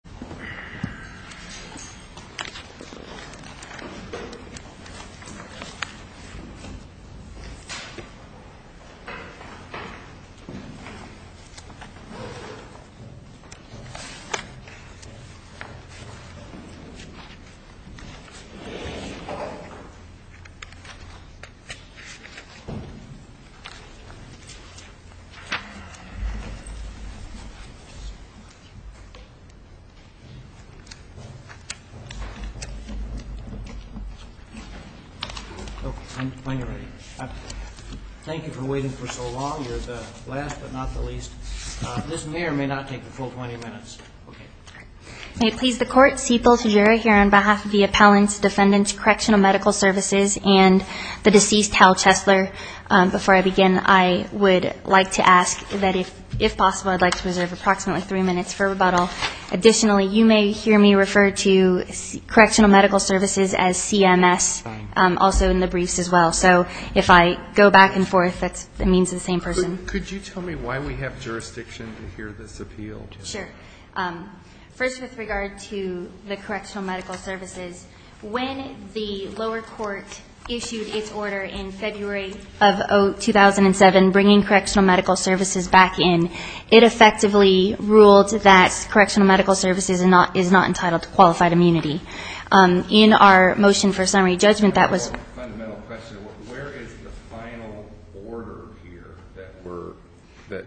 North LV Police Dept Thank you for waiting for so long. You're the last but not the least. This may or may not take the full 20 minutes. May it please the court, Cpl. Tajira here on behalf of the Appellants, Defendants, Correctional Medical Services, and the deceased Hal Chesler. Before I begin, I would like to ask that if possible, I'd like to reserve approximately three minutes for rebuttal. Additionally, you may hear me refer to Correctional Medical Services as CMS also in the briefs as well. So if I go back and forth, that means the same person. Could you tell me why we have jurisdiction to hear this appeal? Sure. First, with regard to the Correctional Medical Services, when the lower court issued its order in February of 2007 bringing Correctional Medical Services back in, it effectively ruled that Correctional Medical Services is not entitled to qualified immunity. In our motion for summary judgment, that was Where is the final order here that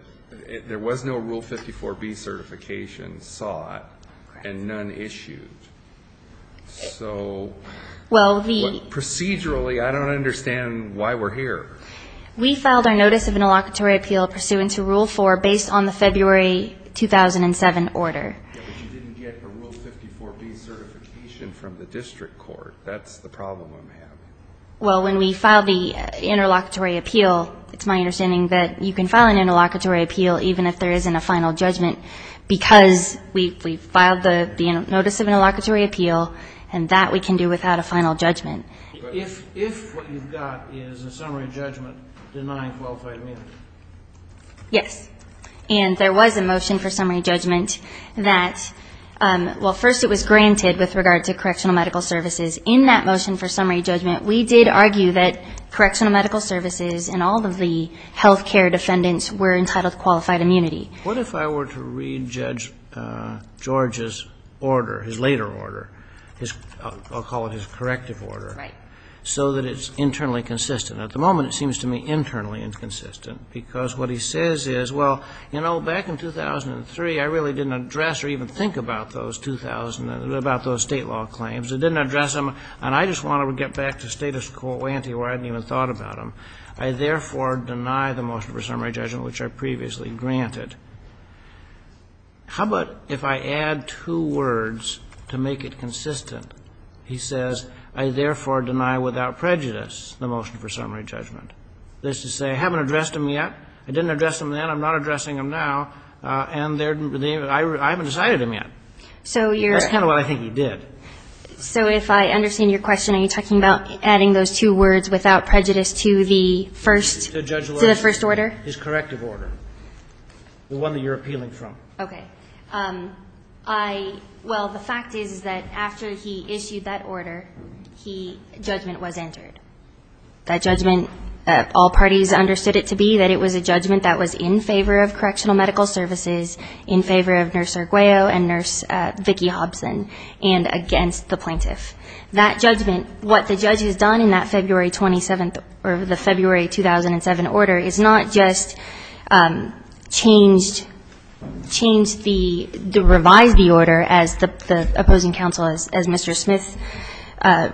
there was no Rule 54B certification sought and none issued? Procedurally, I don't understand why we're here. We filed our Notice of Interlocutory Appeal pursuant to Rule 4 based on the February 2007 order. But you didn't get a Rule 54B certification from the district court. That's the problem I'm having. Well, when we filed the Interlocutory Appeal, it's my understanding that you can file an Interlocutory Appeal even if there isn't a final judgment because we filed the Notice of Interlocutory Appeal, and that we can do without a final judgment. If what you've got is a summary judgment denying qualified immunity. Yes. And there was a motion for summary judgment that, well, first it was granted with regard to Correctional Medical Services. In that motion for summary judgment, we did argue that Correctional Medical Services and all of the health care defendants were entitled to qualified immunity. What if I were to read Judge George's order, his later order, I'll call it his corrective order, so that it's internally consistent? At the moment, it seems to me internally inconsistent because what he says is, well, you know, back in 2003, I really didn't address or even think about those state law claims. I didn't address them, and I just want to get back to status quo ante where I hadn't even thought about them. I therefore deny the motion for summary judgment, which I previously granted. How about if I add two words to make it consistent? He says, I therefore deny without prejudice the motion for summary judgment. That is to say, I haven't addressed them yet. I didn't address them then. I'm not addressing them now. And I haven't decided them yet. That's kind of what I think he did. So if I understand your question, are you talking about adding those two words without prejudice to the first order? His corrective order, the one that you're appealing from. Okay. Well, the fact is that after he issued that order, judgment was entered. That judgment, all parties understood it to be that it was a judgment that was in favor of correctional medical services, in favor of Nurse Arguello and Nurse Vicki Hobson, and against the plaintiff. That judgment, what the judge has done in that February 27th, or the February 2007 order, is not just changed, changed the, revised the order as the opposing counsel, as Mr. Smith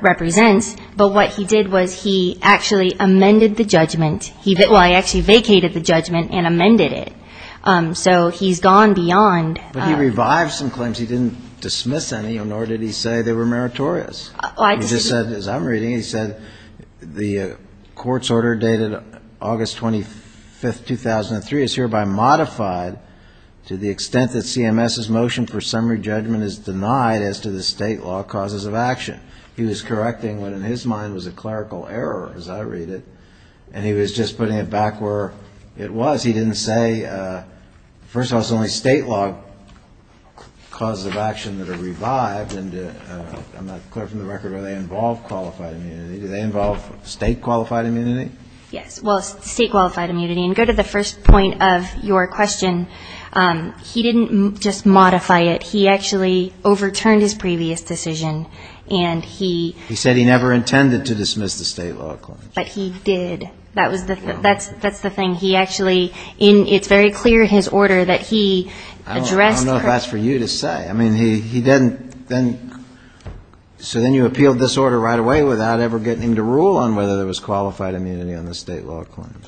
represents, but what he did was he actually amended the judgment. Well, he actually vacated the judgment and amended it. So he's gone beyond. But he revived some claims. He didn't dismiss any, nor did he say they were meritorious. He just said, as I'm reading, he said the court's order dated August 25th, 2003, is hereby modified to the extent that CMS's motion for summary judgment is denied as to the state law causes of action. He was correcting what in his mind was a clerical error, as I read it, and he was just putting it back where it was. He didn't say, first of all, it's only state law causes of action that are revived, and I'm not clear from the record whether they involve qualified immunity. Do they involve state qualified immunity? Yes. Well, state qualified immunity. And to go to the first point of your question, he didn't just modify it. He actually overturned his previous decision, and he --. He said he never intended to dismiss the state law claims. But he did. That's the thing. He actually, it's very clear in his order that he addressed. I don't know if that's for you to say. I mean, he didn't. So then you appealed this order right away without ever getting him to rule on whether there was qualified immunity on the state law claims.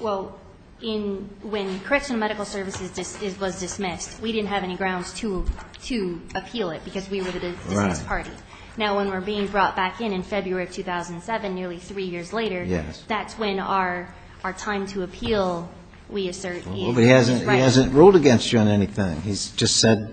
Well, when correctional medical services was dismissed, we didn't have any grounds to appeal it because we were the dismissed party. Right. Now, when we're being brought back in in February of 2007, nearly three years later. Yes. That's when our time to appeal, we assert, is right. But he hasn't ruled against you on anything. He's just said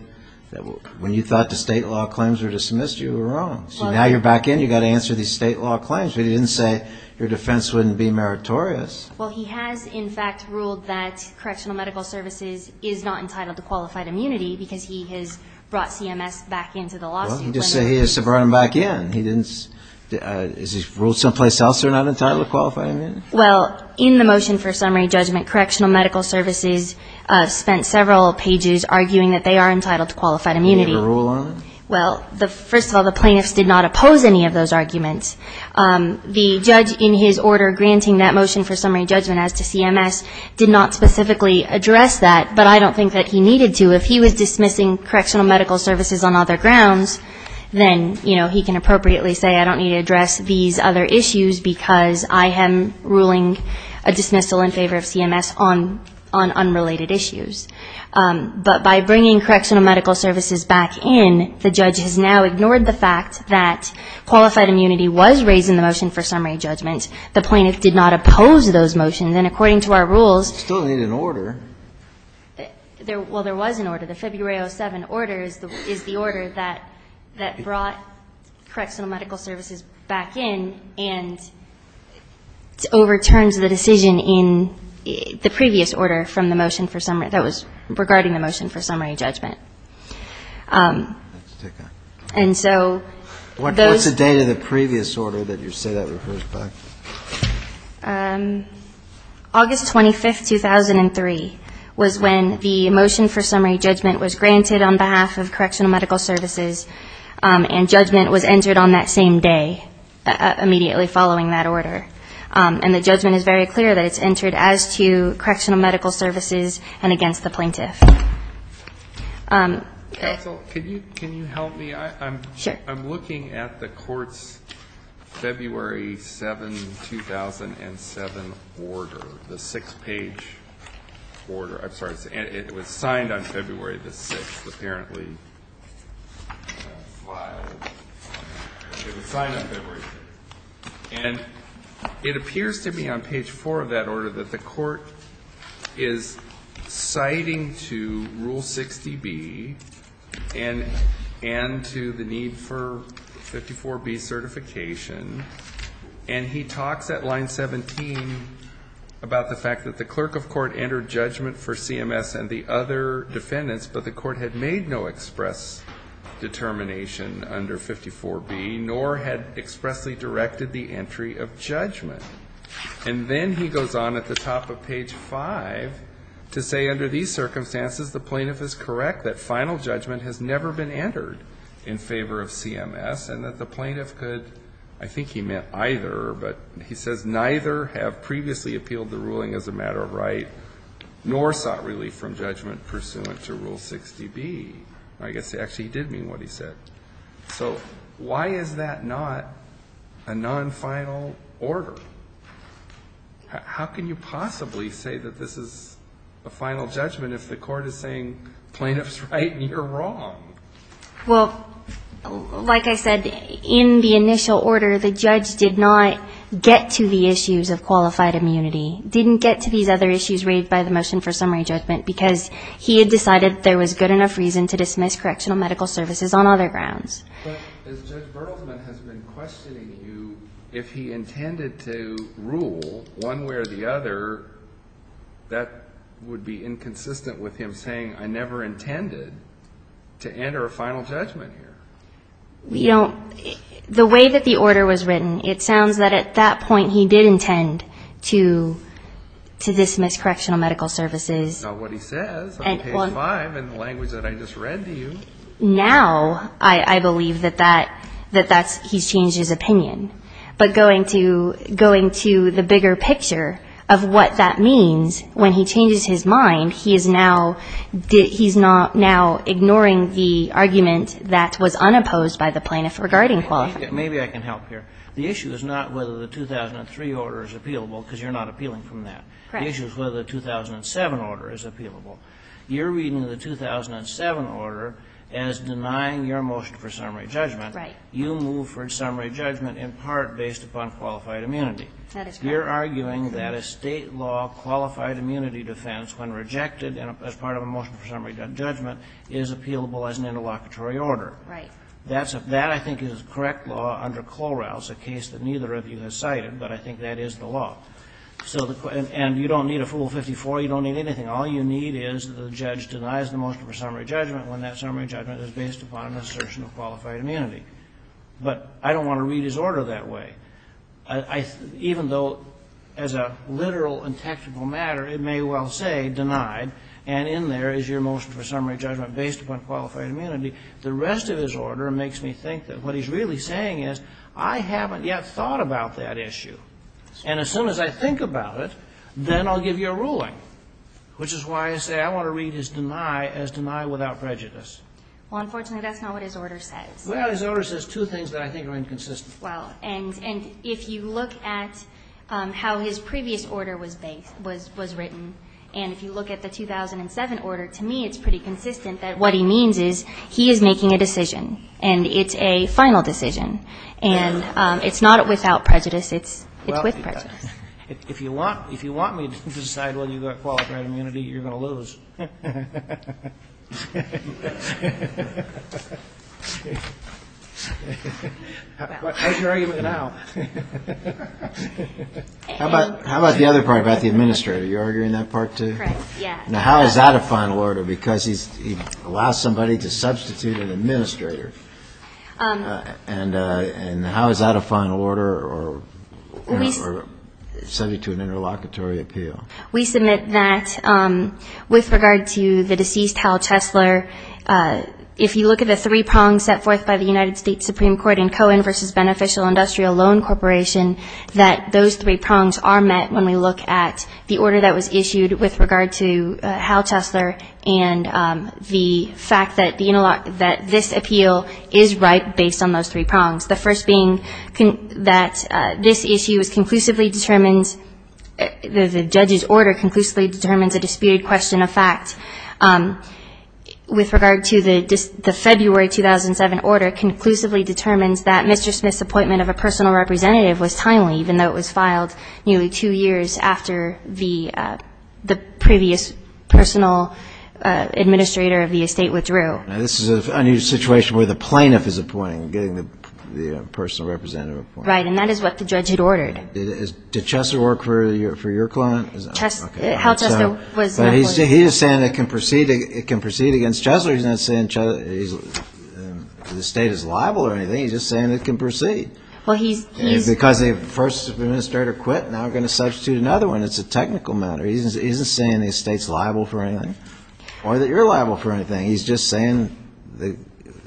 that when you thought the state law claims were dismissed, you were wrong. So now you're back in. You've got to answer these state law claims. But he didn't say your defense wouldn't be meritorious. Well, he has, in fact, ruled that correctional medical services is not entitled to qualified immunity because he has brought CMS back into the lawsuit. Well, he just said he has brought them back in. Has he ruled someplace else they're not entitled to qualified immunity? Well, in the motion for summary judgment, correctional medical services spent several pages arguing that they are entitled to qualified immunity. Well, first of all, the plaintiffs did not oppose any of those arguments. The judge in his order granting that motion for summary judgment as to CMS did not specifically address that. But I don't think that he needed to. If he was dismissing correctional medical services on other grounds, then, you know, he can appropriately say I don't need to address these other issues because I am ruling a dismissal in favor of CMS on unrelated issues. But by bringing correctional medical services back in, the judge has now ignored the fact that qualified immunity was raised in the motion for summary judgment. The plaintiffs did not oppose those motions. And according to our rules. Still need an order. Well, there was an order. The February 07 order is the order that brought correctional medical services back in and overturned the decision in the previous order from the motion for summary. That was regarding the motion for summary judgment. And so those. What's the date of the previous order that you say that refers back? August 25th, 2003 was when the motion for summary judgment was granted on behalf of correctional medical services. And judgment was entered on that same day immediately following that order. And the judgment is very clear that it's entered as to correctional medical services and against the plaintiff. Can you can you help me? Sure. I'm looking at the court's February 7, 2007 order, the six page order. I'm sorry. It was signed on February the 6th, apparently. It was signed on February the 6th. And it appears to me on page four of that order that the court is citing to rule 60B and and to the need for 54B certification. And he talks at line 17 about the fact that the clerk of court entered judgment for CMS and the other defendants. But the court had made no express determination under 54B, nor had expressly directed the entry of judgment. And then he goes on at the top of page five to say under these circumstances, the plaintiff is correct that final judgment has never been entered in favor of CMS. And that the plaintiff could, I think he meant either, but he says neither have previously appealed the ruling as a matter of right, nor sought relief from judgment pursuant to rule 60B. I guess actually he did mean what he said. So why is that not a non-final order? How can you possibly say that this is a final judgment if the court is saying plaintiff's right and you're wrong? Well, like I said, in the initial order, the judge did not get to the issues of qualified immunity. Didn't get to these other issues raised by the motion for summary judgment because he had decided there was good enough reason to dismiss correctional medical services on other grounds. But as Judge Bertelsman has been questioning you, if he intended to rule one way or the other, that would be inconsistent with him saying I never intended to enter a final judgment here. The way that the order was written, it sounds that at that point he did intend to dismiss correctional medical services. Not what he says. Okay, fine. In the language that I just read to you. Now I believe that that's, he's changed his opinion. But going to the bigger picture of what that means when he changes his mind, he is now ignoring the argument that was unopposed by the plaintiff regarding qualified immunity. Maybe I can help here. The issue is not whether the 2003 order is appealable because you're not appealing from that. Correct. The issue is whether the 2007 order is appealable. You're reading the 2007 order as denying your motion for summary judgment. Right. You move for summary judgment in part based upon qualified immunity. That is correct. You're arguing that a state law qualified immunity defense, when rejected as part of a motion for summary judgment, is appealable as an interlocutory order. Right. That's a, that I think is correct law under Cloral's, a case that neither of you has cited, but I think that is the law. So the, and you don't need a fool 54, you don't need anything. All you need is the judge denies the motion for summary judgment when that summary judgment is based upon an assertion of qualified immunity. But I don't want to read his order that way. I, even though as a literal and technical matter, it may well say denied and in there is your motion for summary judgment based upon qualified immunity. The rest of his order makes me think that what he's really saying is I haven't yet thought about that issue. And as soon as I think about it, then I'll give you a ruling. Which is why I say I want to read his deny as deny without prejudice. Well, unfortunately, that's not what his order says. Well, his order says two things that I think are inconsistent. Well, and, and if you look at how his previous order was based, was, was written, and if you look at the 2007 order, to me it's pretty consistent that what he means is he is making a decision. And it's a final decision. And it's not without prejudice. It's, it's with prejudice. If you want, if you want me to decide whether you've got qualified immunity, you're going to lose. How about, how about the other part about the administrator? You're arguing that part too? Now, how is that a final order? Because he's, he allows somebody to substitute an administrator. And, and how is that a final order or, or subject to an interlocutory appeal? We submit that with regard to the deceased Hal Chesler, if you look at the three prongs set forth by the United States Supreme Court in Cohen versus Beneficial Industrial Loan Corporation, that those three prongs are met when we look at the order that was issued with regard to Hal Chesler and the fact that this appeal is right based on those three prongs. The first being that this issue is conclusively determined, the judge's order conclusively determines a disputed question of fact. With regard to the February 2007 order, it conclusively determines that Mr. Smith's appointment of a personal representative was timely, even though it was filed nearly two years after the previous personal administrator of the estate withdrew. Now, this is a new situation where the plaintiff is appointing, getting the personal representative appointed. Right. And that is what the judge had ordered. Did Chesler work for your client? Chesler, Hal Chesler was. But he is saying it can proceed, it can proceed against Chesler. He's not saying the estate is liable or anything. He's just saying it can proceed. Because the first administrator quit, now we're going to substitute another one. It's a technical matter. He isn't saying the estate is liable for anything or that you're liable for anything. He's just saying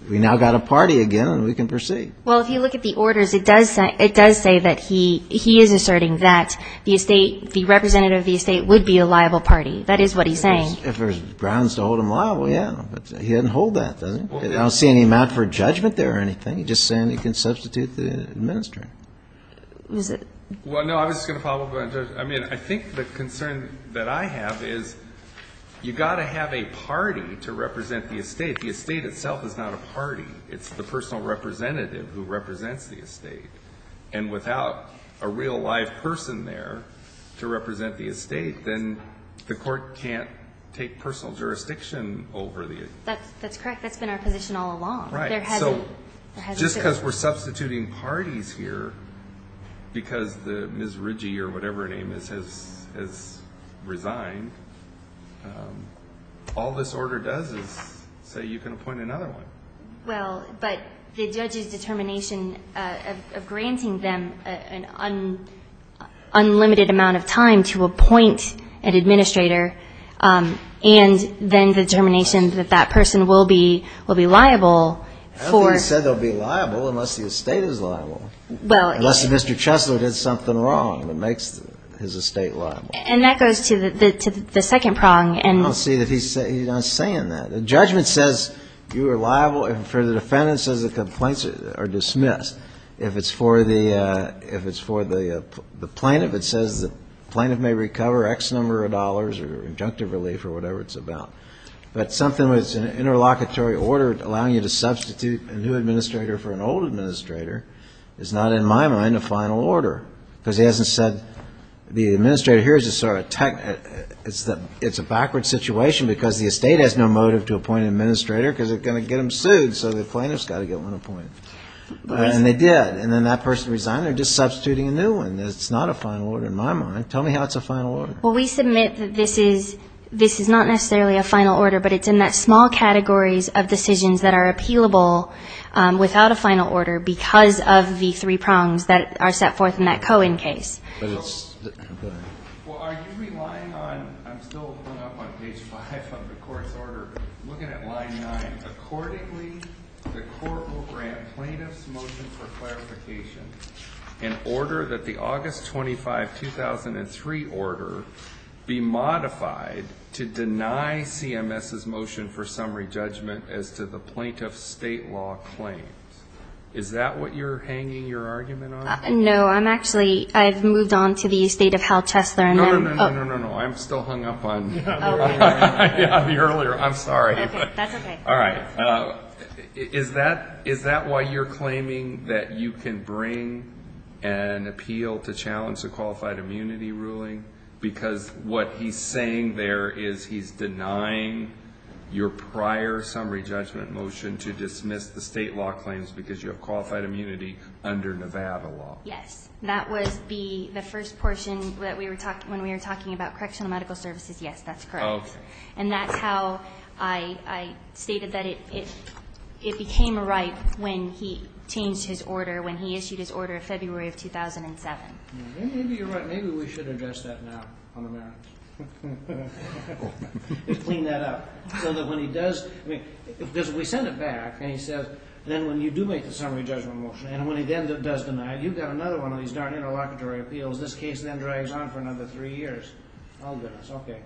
we now got a party again and we can proceed. Well, if you look at the orders, it does say that he is asserting that the representative of the estate would be a liable party. That is what he's saying. If there's grounds to hold him liable, yeah. But he doesn't hold that, does he? I don't see any amount for judgment there or anything. He's just saying he can substitute the administrator. Well, no, I was just going to follow up on that. I mean, I think the concern that I have is you've got to have a party to represent the estate. The estate itself is not a party. It's the personal representative who represents the estate. And without a real live person there to represent the estate, then the court can't take personal jurisdiction over the estate. That's correct. That's been our position all along. Right. So just because we're substituting parties here because Ms. Ridgey or whatever her name is has resigned, all this order does is say you can appoint another one. Well, but the judge's determination of granting them an unlimited amount of time to appoint an administrator and then the determination that that person will be liable for. I don't think he said they'll be liable unless the estate is liable. Unless Mr. Chesler did something wrong that makes his estate liable. And that goes to the second prong. I don't see that he's saying that. The judgment says you are liable. For the defendant, it says the complaints are dismissed. If it's for the plaintiff, it says the plaintiff may recover X number of dollars or injunctive relief or whatever it's about. But something that's an interlocutory order allowing you to substitute a new administrator for an old administrator is not, in my mind, a final order. Because he hasn't said the administrator here is a sort of tech. It's a backward situation because the estate has no motive to appoint an administrator because they're going to get him sued. So the plaintiff's got to get one appointed. And they did. And then that person resigned. They're just substituting a new one. It's not a final order in my mind. Tell me how it's a final order. Well, we submit that this is not necessarily a final order, but it's in that small categories of decisions that are appealable without a final order because of the three prongs that are set forth in that Cohen case. Well, are you relying on, I'm still pulling up on page five of the court's order, looking at line nine. Accordingly, the court will grant plaintiff's motion for clarification in order that the August 25, 2003 order be modified to deny CMS's motion for summary judgment as to the plaintiff's state law claims. Is that what you're hanging your argument on? No, I'm actually, I've moved on to the estate of Hal Chesler. No, no, no, no, no, no. I'm still hung up on the earlier, I'm sorry. That's okay. All right. Is that why you're claiming that you can bring an appeal to challenge the qualified immunity ruling? Because what he's saying there is he's denying your prior summary judgment motion to dismiss the state law claims because you have qualified immunity under Nevada law. Yes. That was the first portion when we were talking about correctional medical services. Yes, that's correct. Okay. And that's how I stated that it became right when he changed his order, when he issued his order in February of 2007. Maybe you're right. Maybe we should address that now on the merits and clean that up. So that when he does, because we send it back and he says, then when you do make the summary judgment motion and when he then does deny it, you've got another one of these darn interlocutory appeals. This case then drags on for another three years. Oh, goodness. Okay.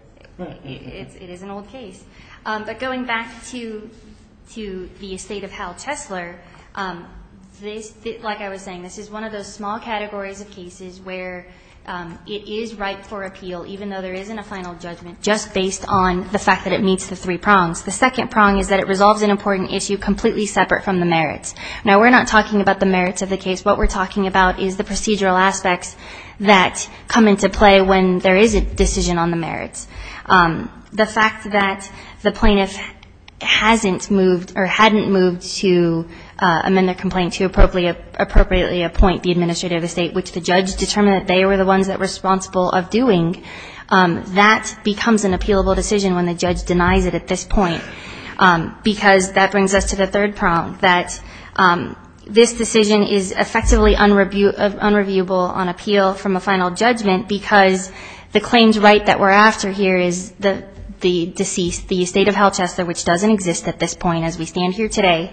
It is an old case. But going back to the estate of Hal Chesler, like I was saying, this is one of those small categories of cases where it is right for appeal, even though there isn't a final judgment, just based on the fact that it meets the three prongs. The second prong is that it resolves an important issue completely separate from the merits. Now, we're not talking about the merits of the case. What we're talking about is the procedural aspects that come into play when there is a decision on the merits. The fact that the plaintiff hasn't moved or hadn't moved to amend their complaint to appropriately appoint the administrator of the state, which the judge determined that they were the ones that were responsible of doing, that becomes an appealable decision when the judge denies it at this point. Because that brings us to the third prong, that this decision is effectively unreviewable on appeal from a final judgment because the claims right that we're after here is the deceased, the estate of Hal Chesler, which doesn't exist at this point as we stand here today,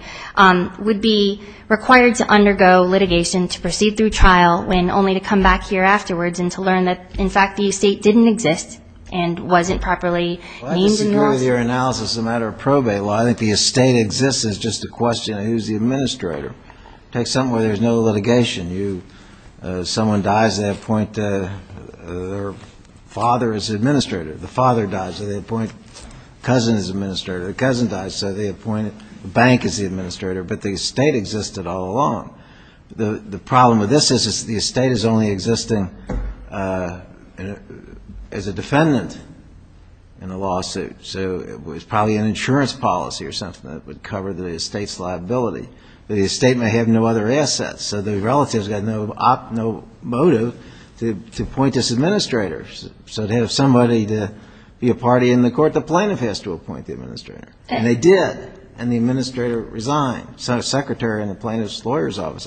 would be required to undergo litigation to proceed through trial and only to come back here afterwards and to learn that, in fact, the estate didn't exist and wasn't properly named in the lawsuit? Well, I disagree with your analysis as a matter of probate law. I think the estate exists. It's just a question of who's the administrator. Take something where there's no litigation. Someone dies, they appoint their father as administrator. The father dies, so they appoint cousin as administrator. The cousin dies, so they appoint a bank as the administrator. But the estate existed all along. The problem with this is the estate is only existing as a defendant in a lawsuit. So it was probably an insurance policy or something that would cover the estate's liability. But the estate may have no other assets, so the relative's got no motive to appoint this administrator. So to have somebody to be a party in the court, the plaintiff has to appoint the administrator. And they did, and the administrator resigned. So the secretary and the plaintiff's lawyer's office,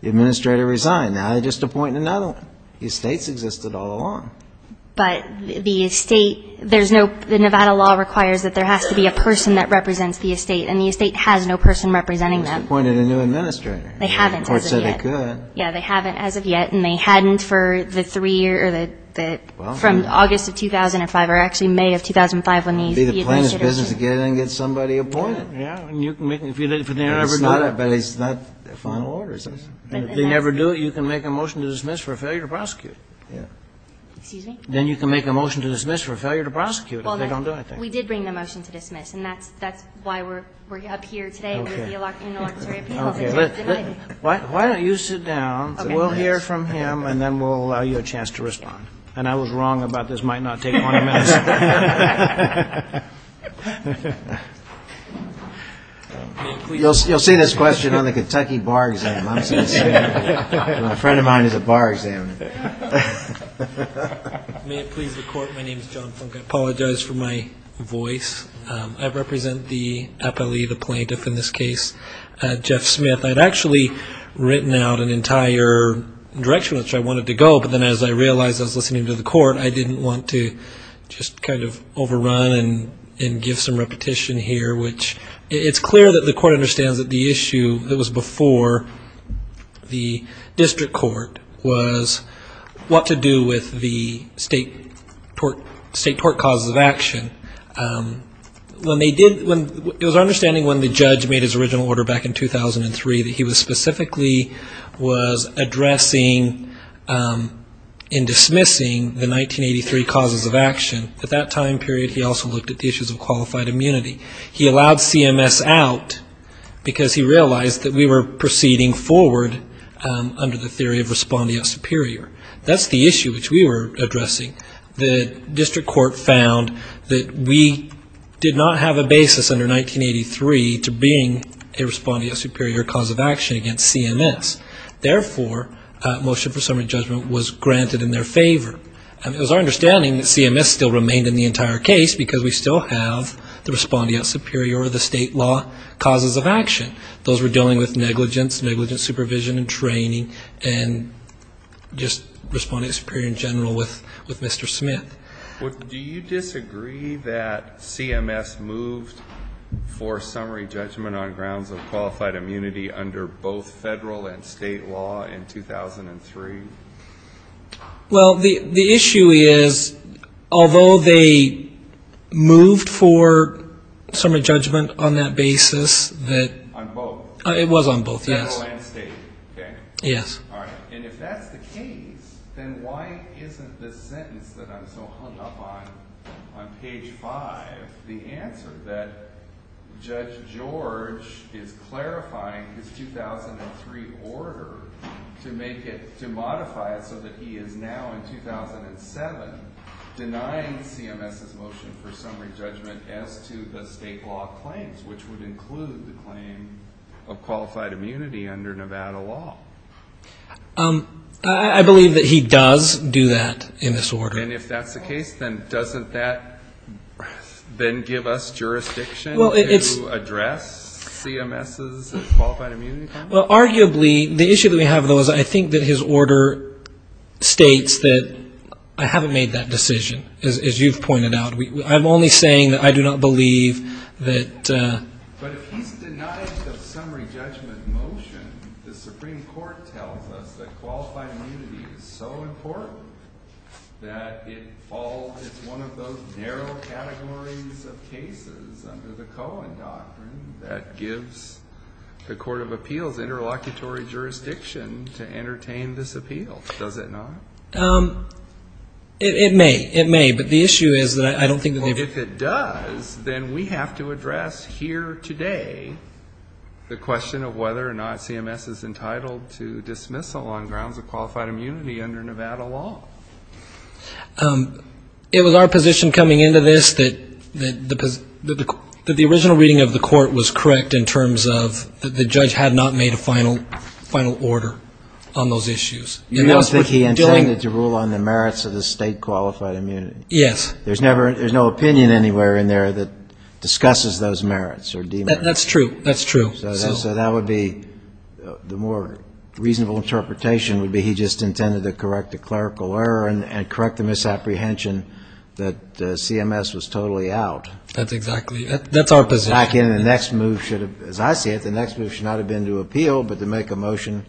the administrator resigned. Now they're just appointing another one. The estate's existed all along. But the estate, there's no ñ the Nevada law requires that there has to be a person that represents the estate, and the estate has no person representing them. They must have appointed a new administrator. They haven't as of yet. The court said they could. Yeah, they haven't as of yet. And they hadn't for the three ñ or the ñ from August of 2005, or actually May of 2005 when the ñ It would be the plaintiff's business to get it and get somebody appointed. Yeah, and you can make ñ if they never do it. But it's not final orders. If they never do it, you can make a motion to dismiss for failure to prosecute. Yeah. Excuse me? Then you can make a motion to dismiss for failure to prosecute. Well, no. They don't do that. We did bring the motion to dismiss, and that's why we're up here today. Okay. Okay. Why don't you sit down, and we'll hear from him, and then we'll allow you a chance to respond. And I was wrong about this might not take more than a minute. You'll see this question on the Kentucky bar exam. My friend of mine is a bar examiner. May it please the court. My name is John Funk. I apologize for my voice. I represent the appellee, the plaintiff in this case, Jeff Smith. I'd actually written out an entire direction which I wanted to go, but then as I realized I was listening to the court, I didn't want to just kind of overrun and give some repetition here, which it's clear that the court understands that the issue that was before the district court was what to do with the state tort causes of action. It was our understanding when the judge made his original order back in 2003 that he specifically was addressing in dismissing the 1983 causes of action. At that time period, he also looked at the issues of qualified immunity. He allowed CMS out because he realized that we were proceeding forward under the theory of response beyond superior. That's the issue which we were addressing. The district court found that we did not have a basis under 1983 to bring a response beyond superior cause of action against CMS. Therefore, motion for summary judgment was granted in their favor. It was our understanding that CMS still remained in the entire case because we still have the response beyond superior or the state law causes of action. Those were dealing with negligence, negligence supervision and training, and just responding to superior in general with Mr. Smith. Do you disagree that CMS moved for summary judgment on grounds of qualified immunity under both federal and state law in 2003? Well, the issue is although they moved for summary judgment on that basis, it was on both federal and state. If that's the case, then why isn't this sentence that I'm so hung up on, on page 5, the answer that Judge George is clarifying his 2003 order to modify it so that he is now in 2007 denying CMS's motion for summary judgment as to the state law claims, which would include the claim of qualified immunity under Nevada law? I believe that he does do that in this order. And if that's the case, then doesn't that then give us jurisdiction to address CMS's qualified immunity claim? Well, arguably the issue that we have though is I think that his order states that I haven't made that decision, as you've pointed out. I'm only saying that I do not believe that. But if he's denied the summary judgment motion, the Supreme Court tells us that qualified immunity is so important that it falls as one of those narrow categories of cases under the Cohen doctrine that gives the Court of Appeals interlocutory jurisdiction to entertain this appeal. Does it not? It may. It may. But the issue is that I don't think that they've --. Well, if it does, then we have to address here today the question of whether or not CMS is entitled to dismissal on grounds of qualified immunity under Nevada law. It was our position coming into this that the original reading of the Court was correct in terms of that the judge had not made a final order on those issues. You don't think he intended to rule on the merits of the state qualified immunity? Yes. There's no opinion anywhere in there that discusses those merits or demerits. That's true. That's true. So that would be the more reasonable interpretation would be he just intended to correct the clerical error and correct the misapprehension that CMS was totally out. That's exactly. That's our position. The next move should have, as I see it, the next move should not have been to appeal, but to make a motion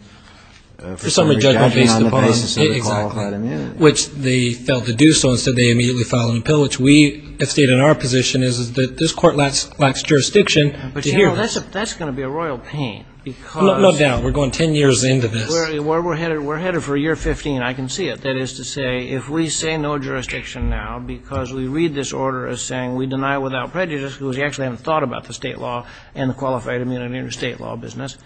for summary judgment on the basis of the qualified immunity. Exactly. Which they failed to do so. Instead, they immediately filed an appeal, which we have stated in our position is that this Court lacks jurisdiction to hear this. But, you know, that's going to be a royal pain because --. No doubt. We're going 10 years into this. We're headed for year 15. I can see it. That is to say if we say no jurisdiction now because we read this order as saying we deny it without prejudice because we actually haven't thought about the state law and the qualified immunity in the state law business.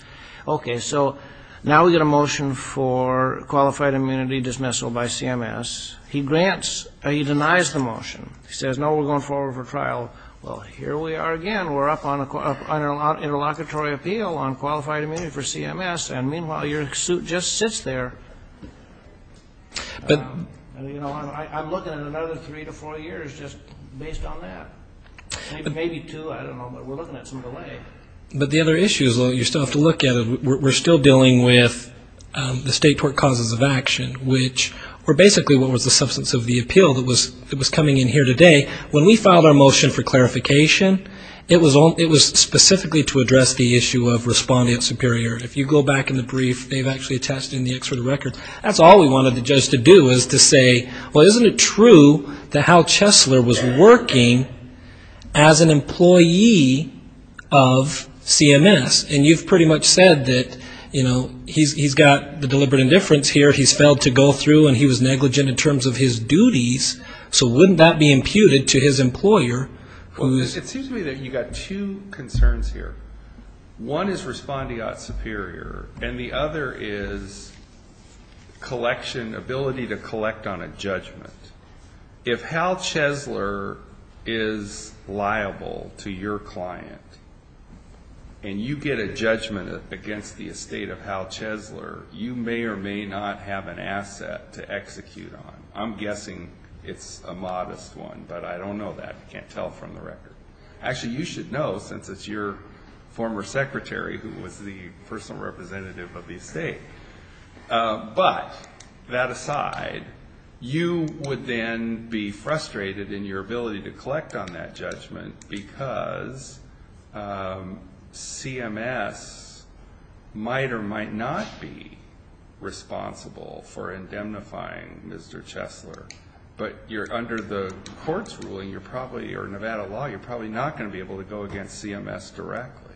Okay. So now we get a motion for qualified immunity dismissal by CMS. He denies the motion. He says, no, we're going forward for trial. Well, here we are again. We're up on an interlocutory appeal on qualified immunity for CMS. And meanwhile, your suit just sits there. You know, I'm looking at another three to four years just based on that, maybe two. I don't know. But we're looking at some delay. But the other issue is, well, you still have to look at it. We're still dealing with the state tort causes of action, which were basically what was the substance of the appeal that was coming in here today. When we filed our motion for clarification, it was specifically to address the issue of respondent superior. If you go back in the brief, they've actually attached it in the extra records. That's all we wanted the judge to do is to say, well, wasn't it true that Hal Chesler was working as an employee of CMS? And you've pretty much said that, you know, he's got the deliberate indifference here. He's failed to go through and he was negligent in terms of his duties. So wouldn't that be imputed to his employer? It seems to me that you've got two concerns here. One is respondent superior. And the other is collection, ability to collect on a judgment. If Hal Chesler is liable to your client and you get a judgment against the estate of Hal Chesler, you may or may not have an asset to execute on. I'm guessing it's a modest one, but I don't know that. I can't tell from the record. Actually, you should know since it's your former secretary who was the personal representative of the estate. But that aside, you would then be frustrated in your ability to collect on that judgment because CMS might or might not be responsible for indemnifying Mr. Chesler. But under the court's ruling or Nevada law, you're probably not going to be able to go against CMS directly.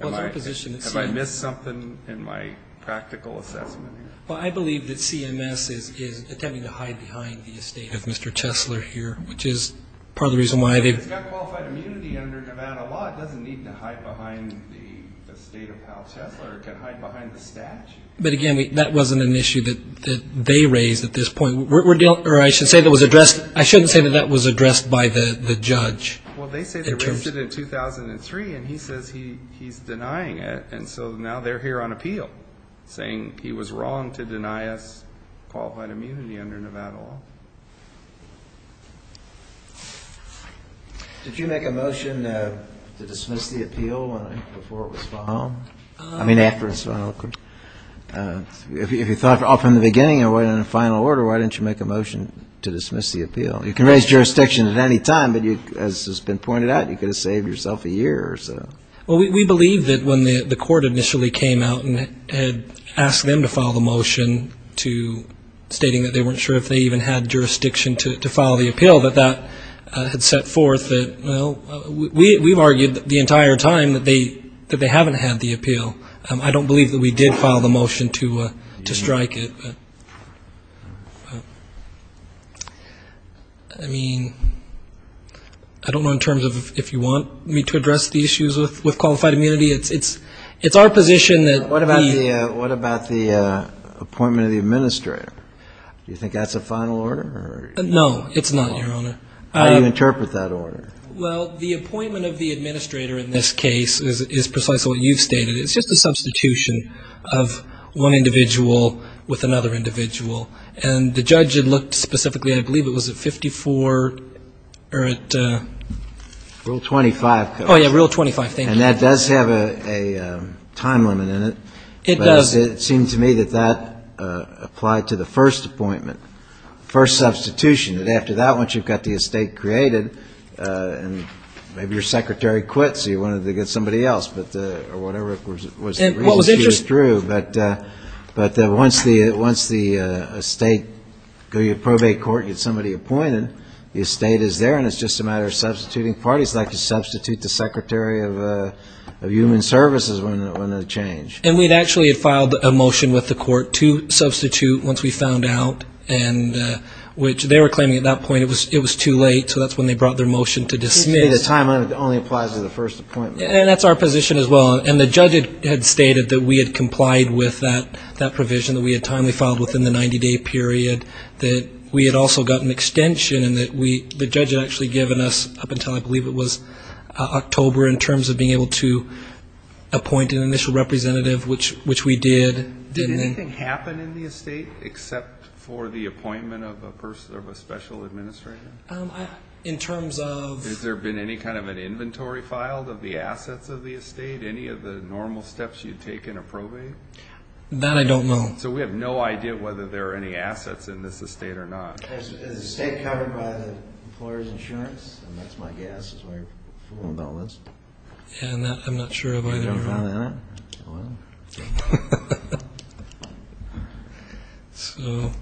Have I missed something in my practical assessment here? Well, I believe that CMS is attempting to hide behind the estate of Mr. Chesler here, which is part of the reason why they've got qualified immunity under Nevada law. It doesn't need to hide behind the estate of Hal Chesler. It can hide behind the statute. But, again, that wasn't an issue that they raised at this point. I shouldn't say that that was addressed by the judge. Well, they said they raised it in 2003, and he says he's denying it, and so now they're here on appeal saying he was wrong to deny us qualified immunity under Nevada law. Did you make a motion to dismiss the appeal before it was filed? I mean, after it was filed. If you thought from the beginning in a final order, why didn't you make a motion to dismiss the appeal? You can raise jurisdiction at any time, but as has been pointed out, you could have saved yourself a year or so. Well, we believe that when the court initially came out and had asked them to file the motion stating that they weren't sure if they even had jurisdiction to file the appeal, that that had set forth that, well, we've argued the entire time that they haven't had the appeal. I don't believe that we did file the motion to strike it. I mean, I don't know in terms of if you want me to address the issues with qualified immunity. It's our position that we. What about the appointment of the administrator? Do you think that's a final order? No, it's not, Your Honor. How do you interpret that order? Well, the appointment of the administrator in this case is precisely what you've stated. It's just a substitution of one individual with another individual. And the judge had looked specifically, I believe it was at 54 or at. Rule 25. Oh, yeah, Rule 25, thank you. And that does have a time limit in it. It does. It seems to me that that applied to the first appointment, first substitution. And after that, once you've got the estate created, and maybe your secretary quit so you wanted to get somebody else, or whatever was the reason she withdrew. But once the estate, go to your probate court, get somebody appointed, the estate is there, and it's just a matter of substituting parties like you substitute the secretary of human services when they change. And we actually had filed a motion with the court to substitute once we found out, which they were claiming at that point it was too late, so that's when they brought their motion to dismiss. It seems to me the time limit only applies to the first appointment. And that's our position as well. And the judge had stated that we had complied with that provision, that we had timely filed within the 90-day period, that we had also gotten extension, and the judge had actually given us, up until I believe it was October, we were in terms of being able to appoint an initial representative, which we did. Did anything happen in the estate except for the appointment of a special administrator? In terms of? Has there been any kind of an inventory filed of the assets of the estate, any of the normal steps you'd take in a probate? That I don't know. So we have no idea whether there are any assets in this estate or not. Is the estate covered by the employer's insurance? And that's my guess is why you're fooling about with this. I'm not sure of either. You haven't found it, have you? So.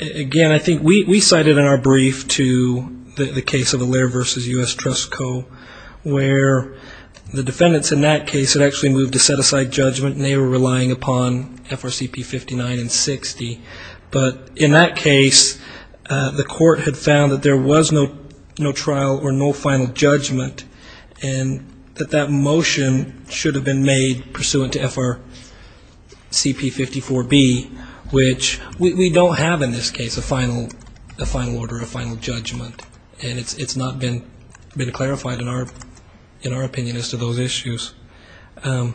Again, I think we cited in our brief to the case of Allaire v. U.S. Trust Co., where the defendants in that case had actually moved to set aside judgment, and they were relying upon FRCP 59 and 60. But in that case, the court had found that there was no trial or no final judgment, and that that motion should have been made pursuant to FRCP 54B, which we don't have in this case a final order, a final judgment. And it's not been clarified in our opinion as to those issues. Are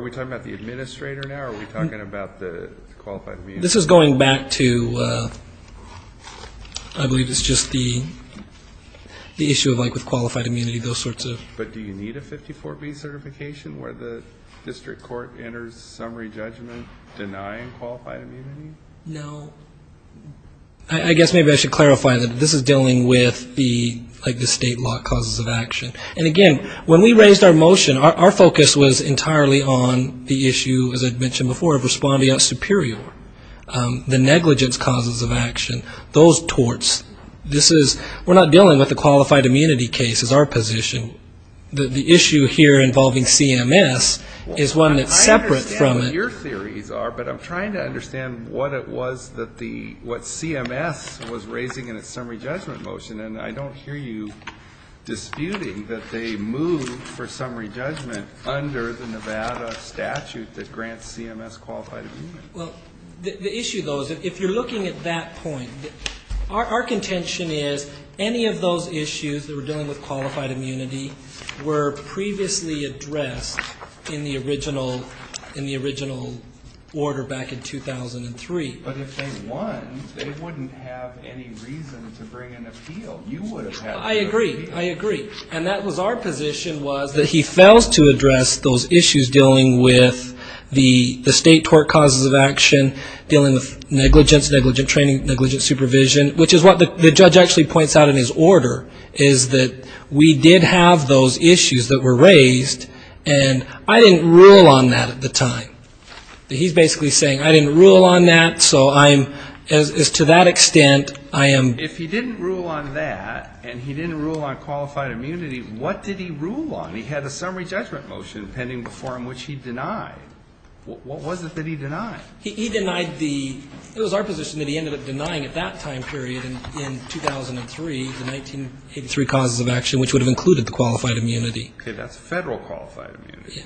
we talking about the administrator now? Are we talking about the qualified immunity? This is going back to I believe it's just the issue of like with qualified immunity, those sorts of. But do you need a 54B certification where the district court enters summary judgment denying qualified immunity? No. I guess maybe I should clarify that this is dealing with the like the state law causes of action. And, again, when we raised our motion, our focus was entirely on the issue, as I mentioned before, of responding out superior, the negligence causes of action, those torts. This is, we're not dealing with the qualified immunity case is our position. The issue here involving CMS is one that's separate from it. But I'm trying to understand what it was that the, what CMS was raising in its summary judgment motion. And I don't hear you disputing that they moved for summary judgment under the Nevada statute that grants CMS qualified immunity. Well, the issue, though, is if you're looking at that point, our contention is any of those issues that were dealing with qualified immunity were previously addressed in the original, in the original order back in 2003. But if they won, they wouldn't have any reason to bring an appeal. You would have had an appeal. I agree. I agree. And that was our position was that he fails to address those issues dealing with the state tort causes of action, dealing with negligence, negligent training, negligent supervision, which is what the judge actually points out in his order, is that we did have those issues that were raised, and I didn't rule on that at the time. He's basically saying I didn't rule on that, so I'm, to that extent, I am. If he didn't rule on that and he didn't rule on qualified immunity, what did he rule on? He had a summary judgment motion pending before him which he denied. What was it that he denied? He denied the, it was our position that he ended up denying at that time period in 2003, the 1983 causes of action, which would have included the qualified immunity. Okay, that's federal qualified immunity.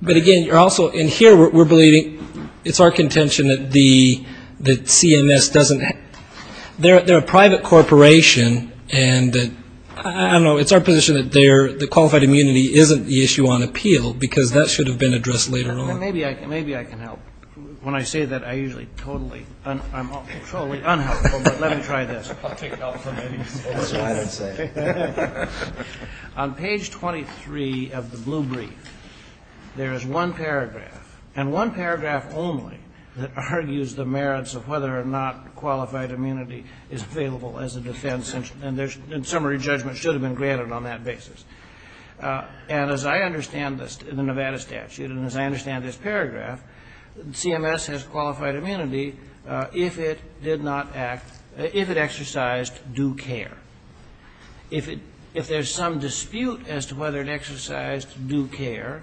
But again, you're also, and here we're believing, it's our contention that the CMS doesn't, they're a private corporation, and I don't know, it's our position that qualified immunity isn't the issue on appeal, because that should have been addressed later on. Maybe I can help. When I say that, I usually totally, I'm totally unhelpful, but let me try this. On page 23 of the blue brief, there is one paragraph, and one paragraph only, that argues the merits of whether or not qualified immunity is available as a defense, and summary judgment should have been granted on that basis. And as I understand this, in the Nevada statute, and as I understand this paragraph, CMS has qualified immunity if it did not act, if it exercised due care. If there's some dispute as to whether it exercised due care,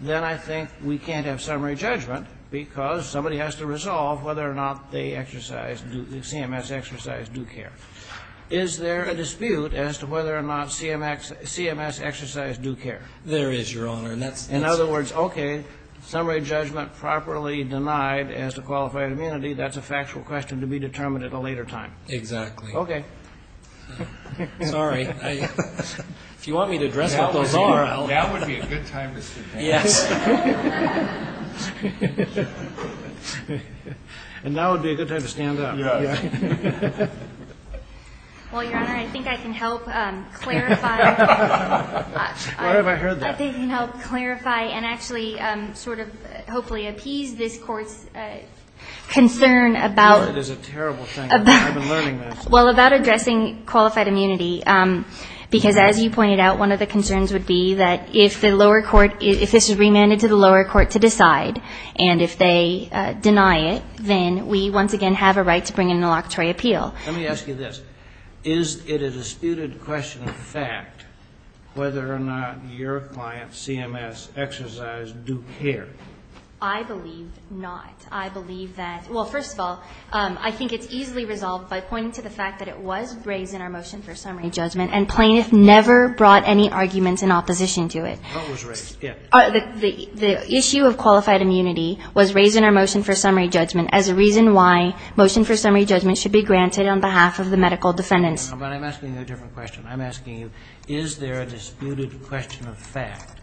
then I think we can't have summary judgment, because somebody has to resolve whether or not they exercised, the CMS exercised due care. Is there a dispute as to whether or not CMS exercised due care? There is, Your Honor, and that's In other words, okay, summary judgment properly denied as to qualified immunity, that's a factual question to be determined at a later time. Exactly. Okay. Sorry. If you want me to address what those are, I'll That would be a good time to stand up. Yes. And that would be a good time to stand up. Yes. Well, Your Honor, I think I can help clarify Why have I heard that? I think I can help clarify and actually sort of hopefully appease this Court's concern about It is a terrible thing. I've been learning this. Well, about addressing qualified immunity, because as you pointed out, one of the concerns would be that if the lower court, if this is remanded to the lower court to decide, and if they deny it, then we once again have a right to bring in a locatory appeal. Let me ask you this. Is it a disputed question of fact whether or not your client's CMS exercised due care? I believe not. I believe that, well, first of all, I think it's easily resolved by pointing to the fact that it was raised in our motion for summary judgment, and plaintiff never brought any arguments in opposition to it. What was raised? The issue of qualified immunity was raised in our motion for summary judgment as a reason why motion for summary judgment should be granted on behalf of the medical defendants. But I'm asking you a different question. I'm asking you, is there a disputed question of fact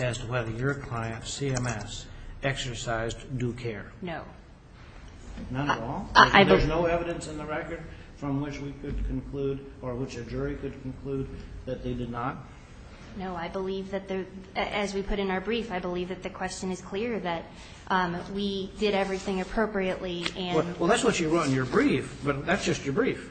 as to whether your client's CMS exercised due care? No. None at all? There's no evidence in the record from which we could conclude or which a jury could conclude that they did not? No. I believe that, as we put in our brief, I believe that the question is clear, that we did everything appropriately, and we did not. Well, that's what you wrote in your brief, but that's just your brief.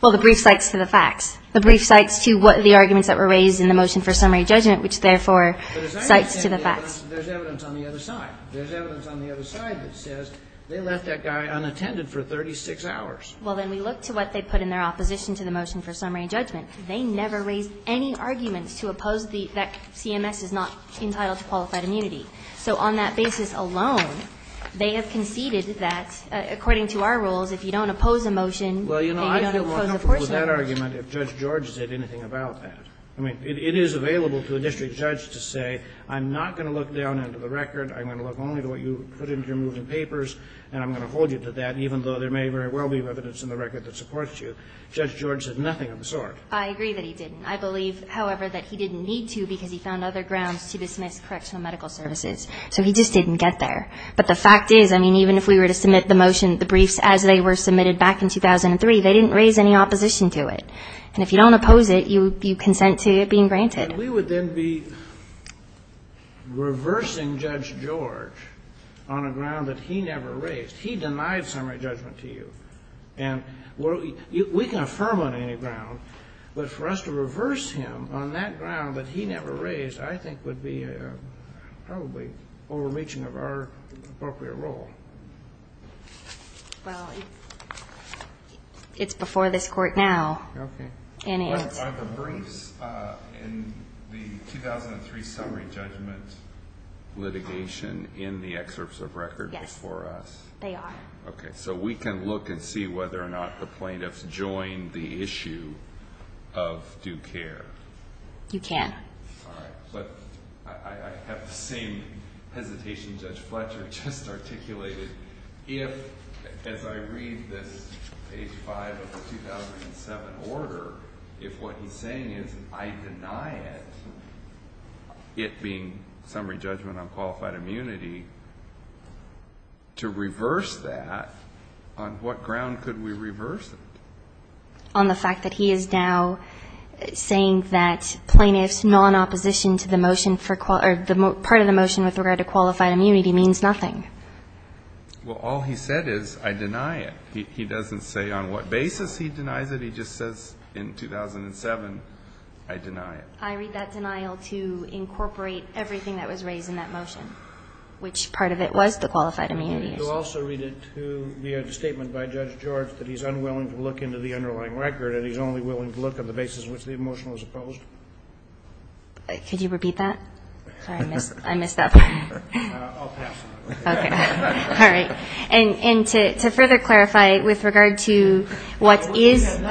Well, the brief cites to the facts. The brief cites to the arguments that were raised in the motion for summary judgment, which, therefore, cites to the facts. Well, there's evidence on the other side. There's evidence on the other side that says they left that guy unattended for 36 hours. Well, then we look to what they put in their opposition to the motion for summary judgment. They never raised any arguments to oppose the fact CMS is not entitled to qualified immunity. So on that basis alone, they have conceded that, according to our rules, if you don't oppose a motion, then you don't oppose a portion of it. Well, you know, I feel more comfortable with that argument if Judge George said anything about that. I mean, it is available to a district judge to say, I'm not going to look down into the record. I'm going to look only to what you put into your moving papers, and I'm going to hold you to that, even though there may very well be evidence in the record that supports you. Judge George said nothing of the sort. I agree that he didn't. I believe, however, that he didn't need to because he found other grounds to dismiss correctional medical services. So he just didn't get there. But the fact is, I mean, even if we were to submit the motion, the briefs, as they were submitted back in 2003, they didn't raise any opposition to it. And if you don't oppose it, you consent to it being granted. We would then be reversing Judge George on a ground that he never raised. He denied summary judgment to you. And we can affirm on any ground, but for us to reverse him on that ground that he never raised, I think would be probably overreaching of our appropriate role. Well, it's before this court now. Okay. Are the briefs in the 2003 summary judgment litigation in the excerpts of record before us? Yes, they are. Okay. So we can look and see whether or not the plaintiffs joined the issue of due care. You can. All right. But I have the same hesitation Judge Fletcher just articulated. If, as I read this, page 5 of the 2007 order, if what he's saying is I deny it, it being summary judgment on qualified immunity, to reverse that, on what ground could we reverse it? On the fact that he is now saying that plaintiffs' non-opposition to the motion for the part of the motion with regard to qualified immunity means nothing. Well, all he said is I deny it. He doesn't say on what basis he denies it. He just says in 2007, I deny it. I read that denial to incorporate everything that was raised in that motion, which part of it was the qualified immunity. Can you also read it to the statement by Judge George that he's unwilling to look into the underlying record and he's only willing to look at the basis on which the motion was opposed? Could you repeat that? Sorry. I missed that part. I'll pass. Okay. All right. And to further clarify, with regard to what is in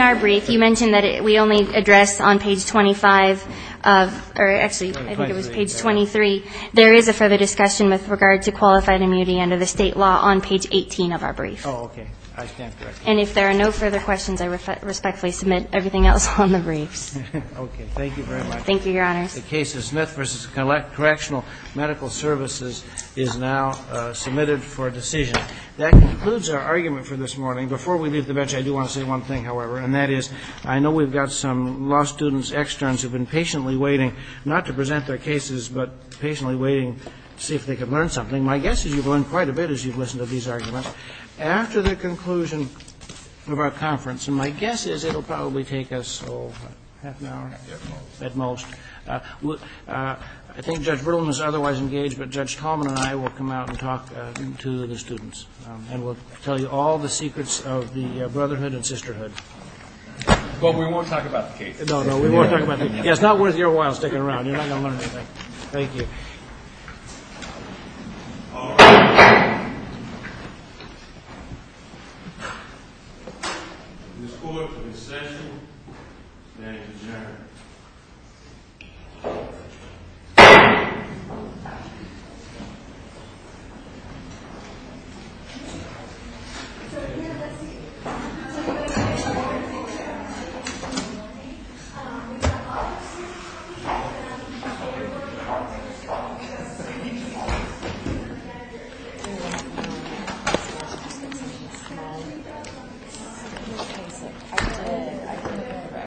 our brief, you mentioned that we only address on page 25 of or actually I think it was page 23, there is a further discussion with regard to qualified immunity under the State law on page 18 of our brief. Oh, okay. I stand corrected. And if there are no further questions, I respectfully submit everything else on the briefs. Okay. Thank you very much. Thank you, Your Honors. The case of Smith v. Correctional Medical Services is now submitted for decision. That concludes our argument for this morning. Before we leave the bench, I do want to say one thing, however, and that is I know we've got some law students, externs, who have been patiently waiting not to present their cases but patiently waiting to see if they can learn something. My guess is you've learned quite a bit as you've listened to these arguments. After the conclusion of our conference, and my guess is it will probably take us, oh, half an hour? At most. At most. I think Judge Berlin is otherwise engaged, but Judge Tallman and I will come out and talk to the students and we'll tell you all the secrets of the brotherhood and sisterhood. But we won't talk about the case. No, no. We won't talk about the case. It's not worth your while sticking around. You're not going to learn anything. Thank you. All right. This court for recessional. Thank you, gentlemen.